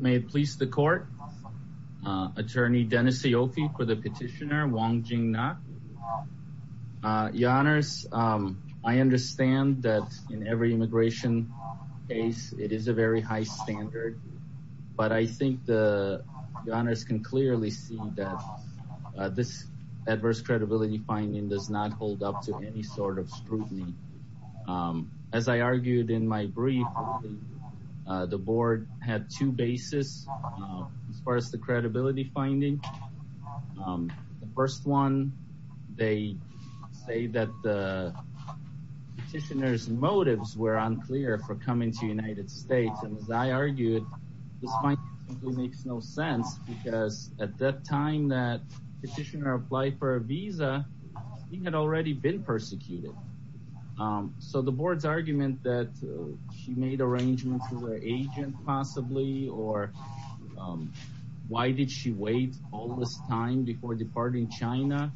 May it please the court. Attorney Dennis Aoki for the petitioner Wang Jing-nak. Your honors, I understand that in every immigration case it is a very high standard but I think the honors can clearly see that this adverse credibility finding does not hold up to any sort of scrutiny. As I argued in my brief the board had two bases as far as the credibility finding. The first one they say that the petitioner's motives were unclear for coming to United States and as I argued this might simply make no sense because at that time that petitioner applied for a visa he had already been persecuted. So the board's argument that she made arrangements with her agent possibly or why did she wait all this time before departing China,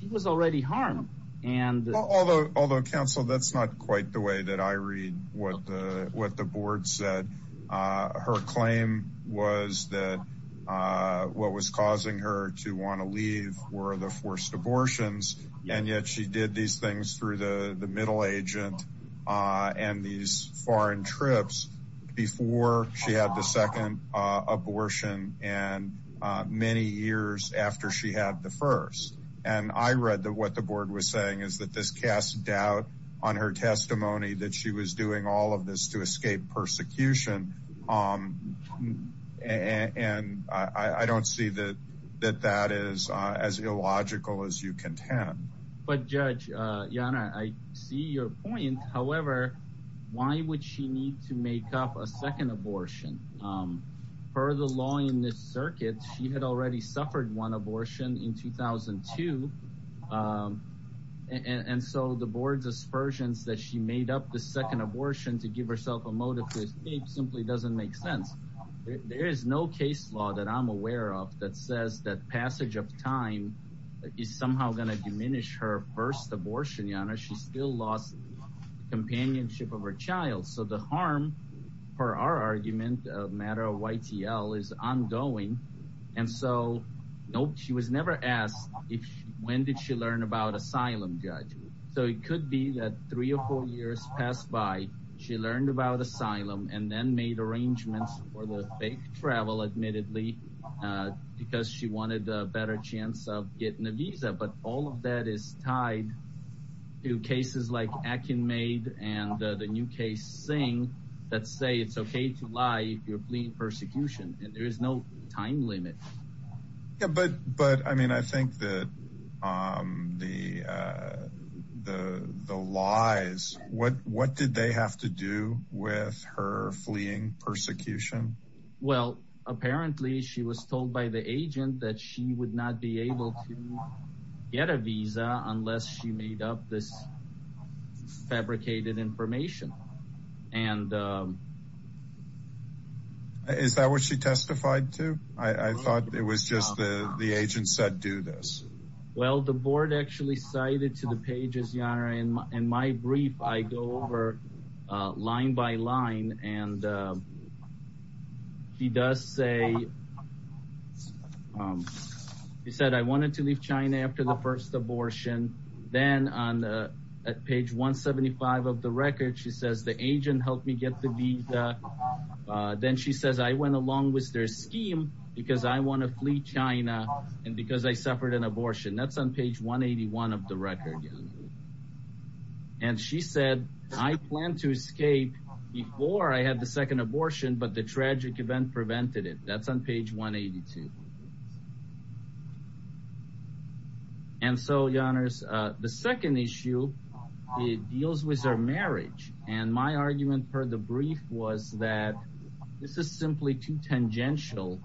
she was already harmed. Although counsel that's not quite the way that I read what the board said. Her claim was that what was causing her to want to leave were the forced abortions and yet she did these things through the the middle agent and these foreign trips before she had the second abortion and many years after she had the first. And I read that what the board was saying is that this cast doubt on her testimony that she was doing all of this to escape persecution and I don't see that that that is as illogical as you contend. But Judge Yana I see your point however why would she need to make up a second abortion? Per the law in this circuit she had already versions that she made up the second abortion to give herself a motive to escape simply doesn't make sense. There is no case law that I'm aware of that says that passage of time is somehow going to diminish her first abortion. Yana she still lost companionship of her child so the harm for our argument a matter of YTL is ongoing and so nope she was never asked if when did she learn about asylum judge. So it could be that three or four years passed by she learned about asylum and then made arrangements for the fake travel admittedly because she wanted a better chance of getting a visa but all of that is tied to cases like Akin made and the new case saying that say it's okay to lie if you're fleeing persecution and there is no time limit. Yeah but but I mean I think that the the the lies what what did they have to do with her fleeing persecution? Well apparently she was told by the agent that she would not be able to get a visa unless she made up this fabricated information and is that what she testified to? I I thought it was just the the agent said do this. Well the board actually cited to the pages Yana and in my brief I go over line by line and he does say he said I wanted to leave China after the first abortion then on the page 175 of the record she says the agent helped me get the visa then she says I went along with their scheme because I want to flee China and because I suffered an abortion that's on page 181 of the record and she said I planned to escape before I had the second abortion but the tragic event prevented it that's on page 182. And so Yana's the second issue it deals with her marriage and my argument for the brief was that this is simply too tangential.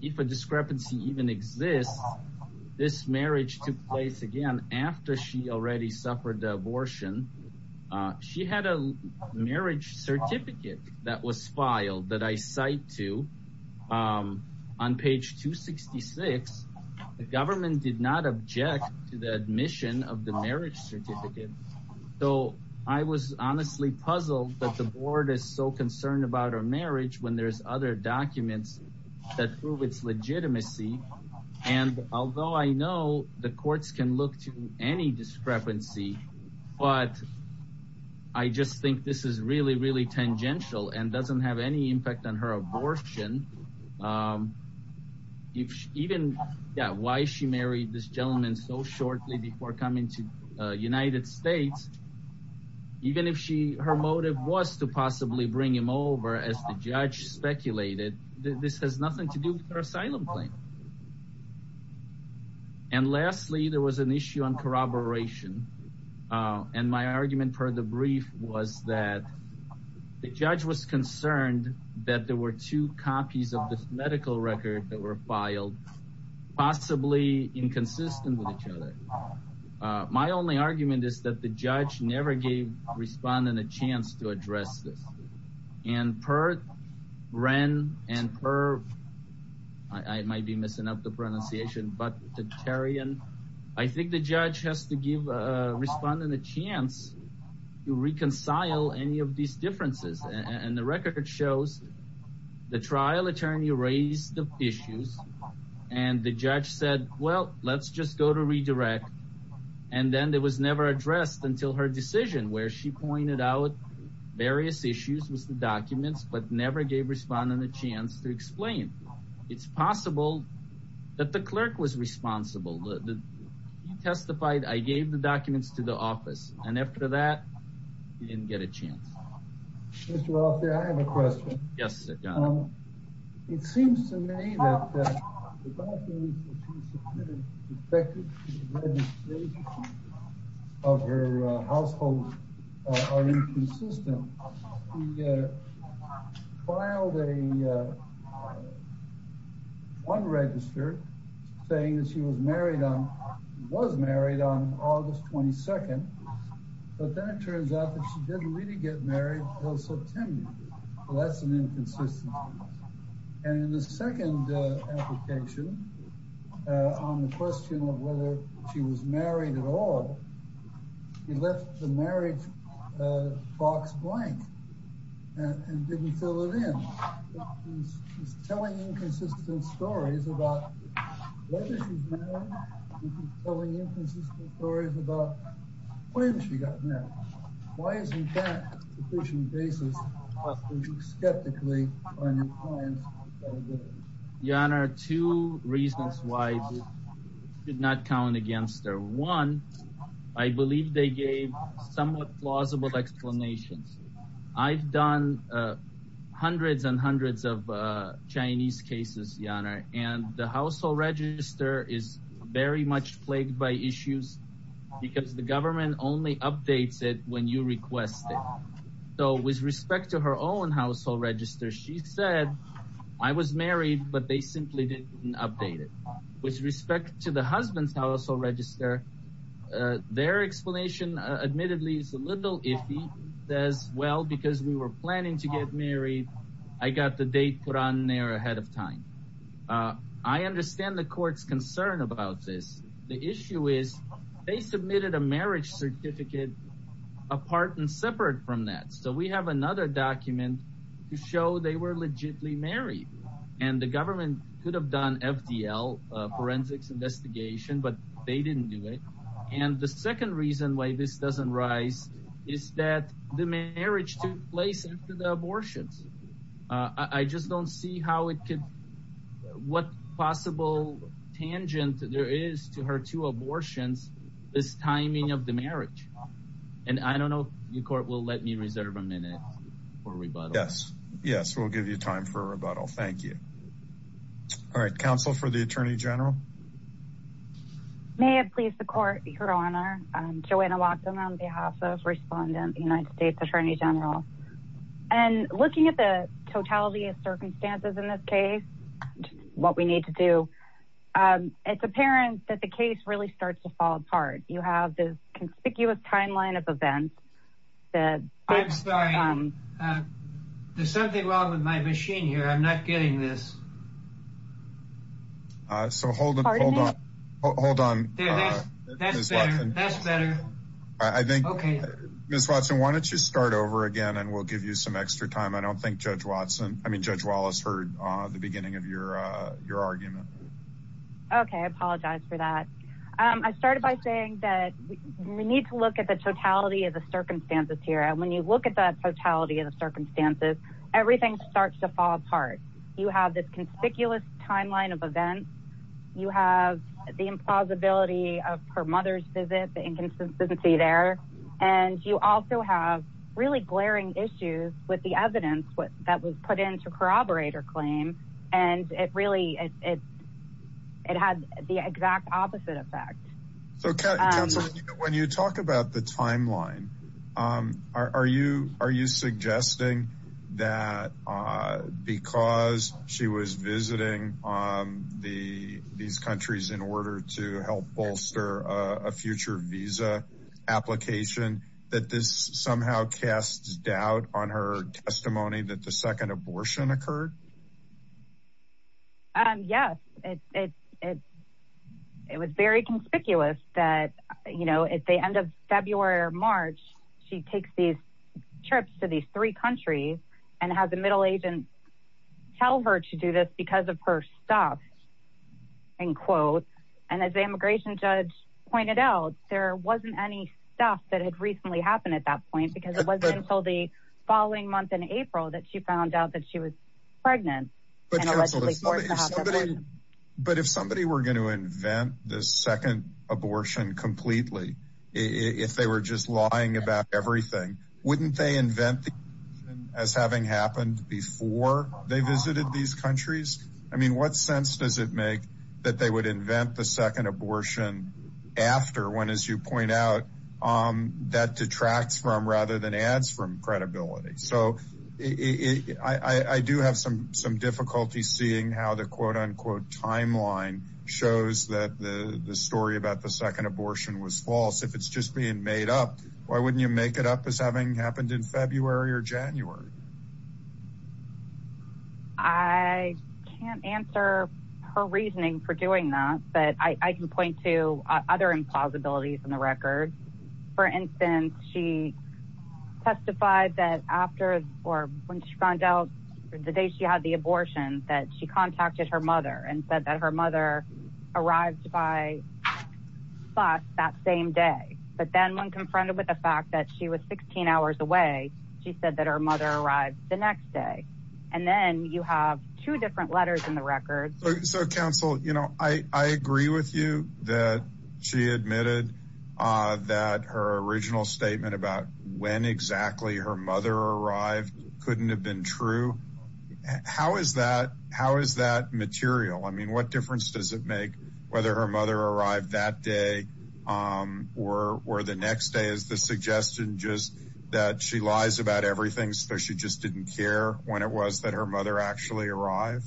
If a discrepancy even exists this marriage took place again after she already suffered the abortion. She had a marriage certificate that was filed that I cite to on page 266. The government did not object to the admission of the marriage certificate so I was honestly puzzled that the board is so concerned about our marriage when there's other documents that prove its legitimacy and although I know the courts can look to any discrepancy but I just think this is really really tangential and doesn't have any impact on her abortion. If even that why she married this gentleman so shortly before coming to United States even if she her motive was to possibly bring him over as the judge speculated this has nothing to do with her asylum claim. And lastly there was an issue on corroboration and my argument for the brief was that the judge was concerned that there were two copies of this medical record that were filed possibly inconsistent with each other. My only argument is that the judge never gave respondent a chance to address this and per Wren and per I might be missing up the pronunciation but the Terrian I think the judge has to give a respondent a chance to reconcile any of these differences and the record shows the trial attorney raised the issues and the judge said well let's just go to redirect and then it was never addressed until her decision where she pointed out various issues with the documents but never gave respondent a chance to explain. It's possible that the clerk was responsible. He testified I gave the documents to the office and after that he didn't get a chance. I have a question yes it seems to me that of her household are inconsistent. He filed a one registered saying that she was married on was married on August 22nd but then it turns out that she didn't really get married until September. That's an inconsistency and in the second application on the question of whether she was married at all he left the marriage box blank and didn't fill it in. He's telling inconsistent stories about whether she's married. He's telling inconsistent stories about when she got married. Why isn't that sufficient basis for you skeptically finding one? I believe they gave somewhat plausible explanations. I've done hundreds and hundreds of Chinese cases and the household register is very much plagued by issues because the government only updates it when you request it. So with respect to her own household register she said I was married but they simply didn't update it. With respect to the husband's household register their explanation admittedly is a little iffy. Says well because we were planning to get married I got the date put on there ahead of time. I understand the court's concern about this. The issue is they submitted a marriage certificate apart and separate from that. So we have another document to show they were legitimately married and the government could have done FDL forensics investigation but they didn't do it. And the second reason why this doesn't rise is that the marriage took place after the abortions. I just don't see how it could what possible tangent there is to her two abortions this timing of the marriage. And I don't know if the court will let me reserve a minute for rebuttal. Yes yes we'll give you time for a rebuttal thank you. All right counsel for the attorney general. May it please the court your honor I'm Joanna Watson on behalf of respondent the United States attorney general. And looking at the totality of circumstances in this case what we need to do it's apparent that the case really starts to fall apart. You have this timeline of events. I'm sorry there's something wrong with my machine here I'm not getting this. Uh so hold on hold on hold on that's better that's better. I think okay Miss Watson why don't you start over again and we'll give you some extra time. I don't think Judge Watson I mean Judge Wallace heard uh the beginning of your uh your argument. Okay I apologize for that. I started by saying that we need to look at the totality of the circumstances here and when you look at the totality of the circumstances everything starts to fall apart. You have this conspicuous timeline of events. You have the implausibility of her mother's visit the inconsistency there. And you also have really glaring issues with the evidence what that was put into corroborate her So counsel when you talk about the timeline um are you are you suggesting that uh because she was visiting um the these countries in order to help bolster a future visa application that this somehow casts doubt on her testimony that the second abortion occurred? Um yes it's it's it's it was very conspicuous that you know at the end of February or March she takes these trips to these three countries and has a middle agent tell her to do this because of her stuff in quotes and as the immigration judge pointed out there wasn't any stuff that had recently happened at that point because it wasn't until the following month in April that she found out that she was pregnant. But if somebody were going to invent the second abortion completely if they were just lying about everything wouldn't they invent the abortion as having happened before they visited these countries? I mean what sense does it make that they would invent the second abortion after when as you point out um that detracts from rather than adds from credibility? So it I I do have some some difficulty seeing how the quote-unquote timeline shows that the the story about the second abortion was false. If it's just being made up why wouldn't you make it up as having happened in February or January? I can't answer her reasoning for doing that but I I can or when she found out the day she had the abortion that she contacted her mother and said that her mother arrived by bus that same day but then when confronted with the fact that she was 16 hours away she said that her mother arrived the next day and then you have two different letters in the record. So counsel you know I I agree with you that she admitted uh that her original statement about when exactly her mother arrived couldn't have been true. How is that how is that material? I mean what difference does it make whether her mother arrived that day um or or the next day is the suggestion just that she lies about everything so she just didn't care when it was that her mother actually arrived?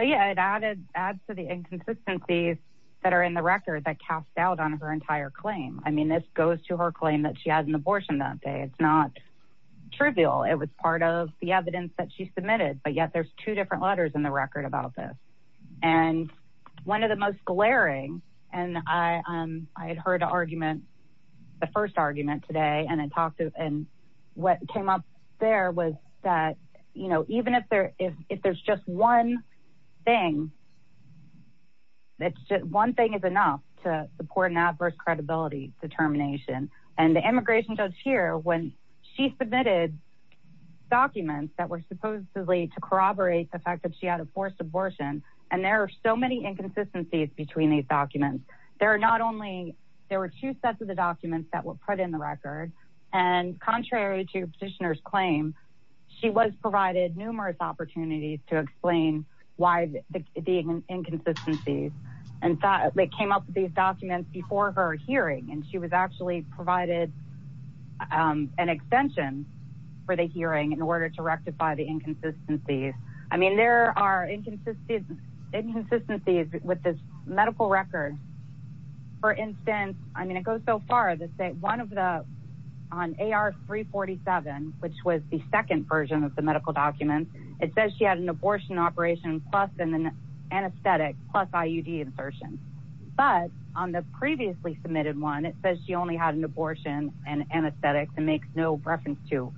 Yeah it added adds to the inconsistencies that are in the record that passed out on her entire claim. I mean this goes to her claim that she had an abortion that day it's not trivial it was part of the evidence that she submitted but yet there's two different letters in the record about this and one of the most glaring and I um I had heard an argument the first argument today and I talked to and what came up there was that you know even if there if if there's just one thing that's just one thing is enough to support an adverse credibility determination and the immigration judge here when she submitted documents that were supposedly to corroborate the fact that she had a forced abortion and there are so many inconsistencies between these documents there are not only there were two sets of the documents that were put in the record and contrary to petitioner's claim she was provided numerous opportunities to explain why the inconsistencies and thought they came up with these documents before her hearing and she was actually provided um an extension for the hearing in order to rectify the inconsistencies I mean there are inconsistent inconsistencies with this medical record for instance I mean it goes so far to say one of the on AR 347 which was the second version of the medical documents it says she had an abortion operation plus an anesthetic plus IUD insertion but on the previously submitted one it says she only had an abortion and anesthetics and makes no reference to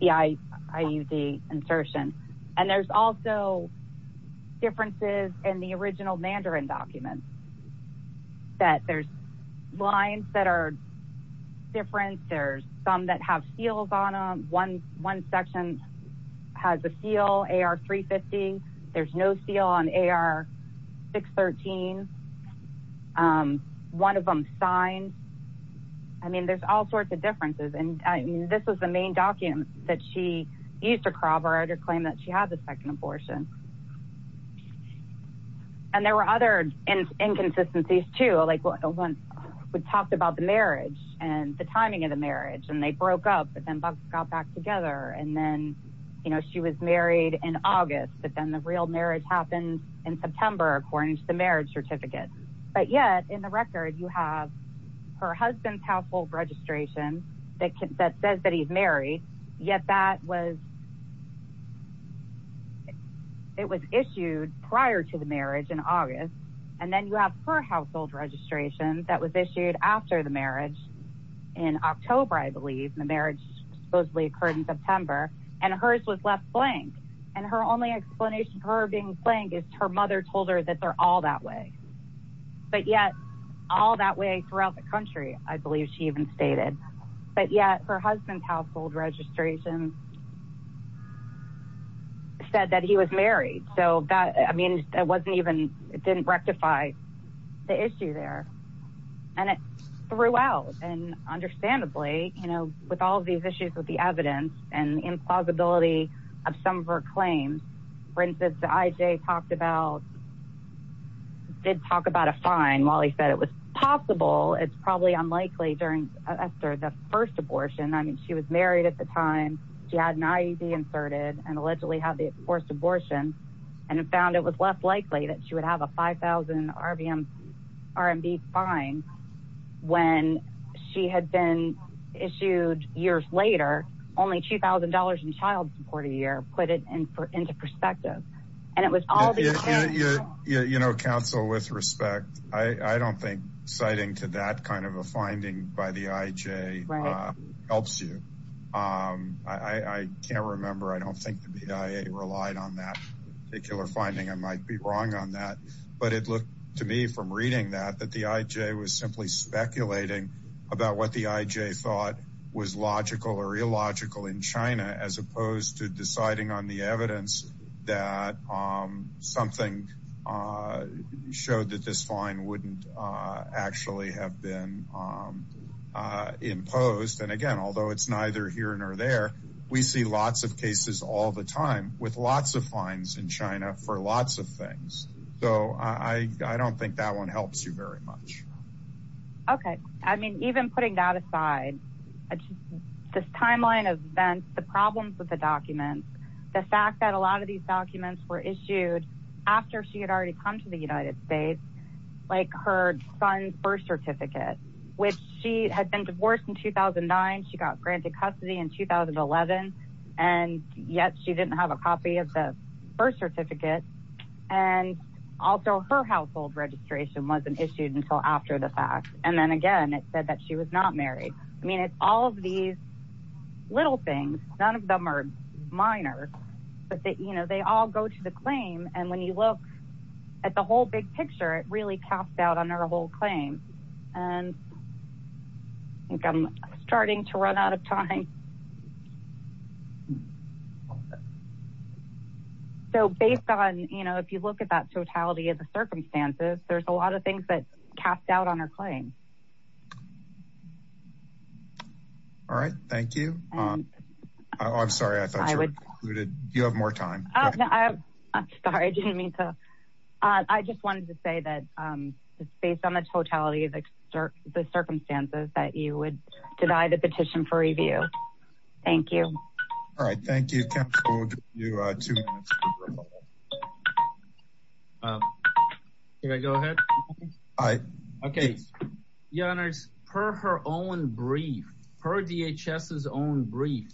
the IUD insertion and there's also differences in the original mandarin documents that there's lines that are different there's some that have seals on them one one section has a seal AR 350 there's no seal on AR 613 one of them signed I mean there's all sorts of differences and I mean this was the main document that she used to corroborate her claim that she had the second abortion and there were other inconsistencies too like when we talked about the marriage and the timing of the marriage and they broke up but then both got back together and then you know she was married in august but then the real marriage happened in september according to the marriage certificate but yet in the record you have her husband's household registration that says that he's married yet that was it was issued prior to the marriage in august and then you have her household registration that was issued after the marriage in october I believe the marriage supposedly occurred in september and hers was left blank and her only explanation for being blank is her mother told her that they're all that way but yet all that way throughout the country I believe she even stated but yet her husband's household registration said that he was married so that I mean it wasn't even it didn't rectify the issue there and it threw out and understandably you know with all these issues with the evidence and implausibility of some of her claims for instance the IJ talked about did talk about a fine while he said it was possible it's probably unlikely during Esther the first abortion I mean she was married at the time she had an IED inserted and allegedly had forced abortion and found it was less likely that she would have a 5,000 rvm rmb fine when she had been issued years later only two thousand dollars in child support a year put it in for into perspective and it was all these you know counsel with respect I don't think citing to that kind of a finding by the IJ helps you I can't remember I don't think the BIA relied on that particular finding I might be wrong on that but it looked to me from reading that that the IJ was simply speculating about what the IJ thought was logical or illogical in China as opposed to deciding on the evidence that something showed that this fine wouldn't actually have been imposed and again although it's neither here nor there we see lots of cases all the time with lots of fines in China for lots of things so I don't think that one helps you very much okay I mean even putting that aside this timeline of events the problems with the documents the fact that a lot of these documents were issued after she had already come to the United States like her son's certificate which she had been divorced in 2009 she got granted custody in 2011 and yet she didn't have a copy of the birth certificate and also her household registration wasn't issued until after the fact and then again it said that she was not married I mean it's all of these little things none of them are minor but that you know they all go to the claim and when you look at the whole big picture it really casts out on our whole claim and I think I'm starting to run out of time so based on you know if you look at that totality of the circumstances there's a lot of things that cast out on her claim all right thank you I'm sorry I thought you were concluded you have more time I'm sorry I didn't I just wanted to say that it's based on the totality of the circumstances that you would deny the petition for review thank you all right thank you can I go ahead all right okay your honors per her own brief per DHS's own brief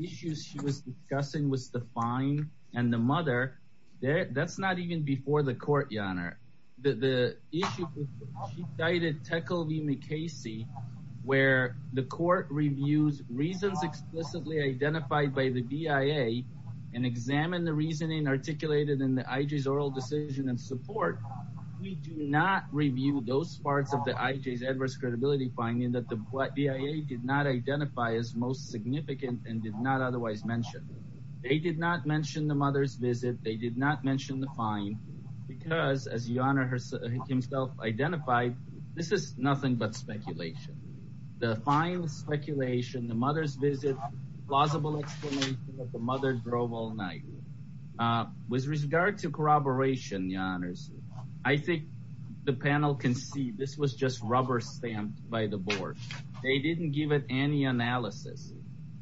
issues she was discussing was the fine and the mother there that's not even before the court your honor the the issue she cited Tekelvimikasey where the court reviews reasons explicitly identified by the DIA and examine the reasoning articulated in the IJ's oral decision and support we do not review those parts of the IJ's adverse credibility finding that the what DIA did not identify as most significant and did not otherwise mention they did not mention the mother's visit they did not mention the fine because as your honor herself himself identified this is nothing but speculation the fine speculation the mother's visit plausible explanation that the mother drove all night uh with regard to corroboration your honors I think the panel can see this was just rubber stamped by the board they didn't give it any analysis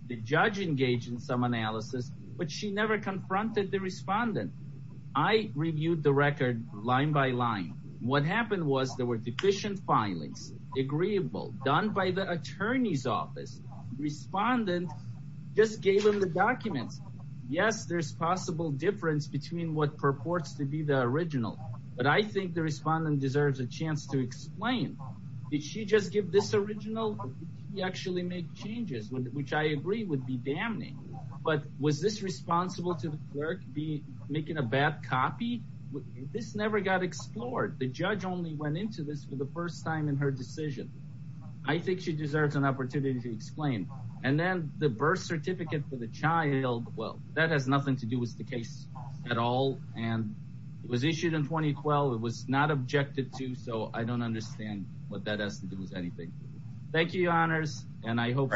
the judge engaged in some analysis but she never confronted the respondent I reviewed the record line by line what happened was there were deficient filings agreeable done by the attorney's office respondent just gave him the documents yes there's possible difference between what purports to be the original but I think the respondent deserves a chance to explain did she just give this original he actually made changes which I agree would be damning but was this responsible to the clerk be making a bad copy this never got explored the judge only went into this for the first time in her decision I think she deserves an opportunity to explain and then the birth certificate for the child well that has nothing to do with the case at all and it was issued in 2012 it was not objected to so I don't understand what that has to do with anything thank you honors and I hope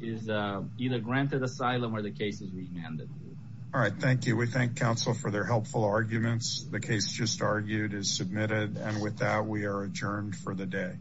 is uh either granted asylum or the case is remanded all right thank you we thank council for their helpful arguments the case just argued is submitted and with that we are adjourned for the day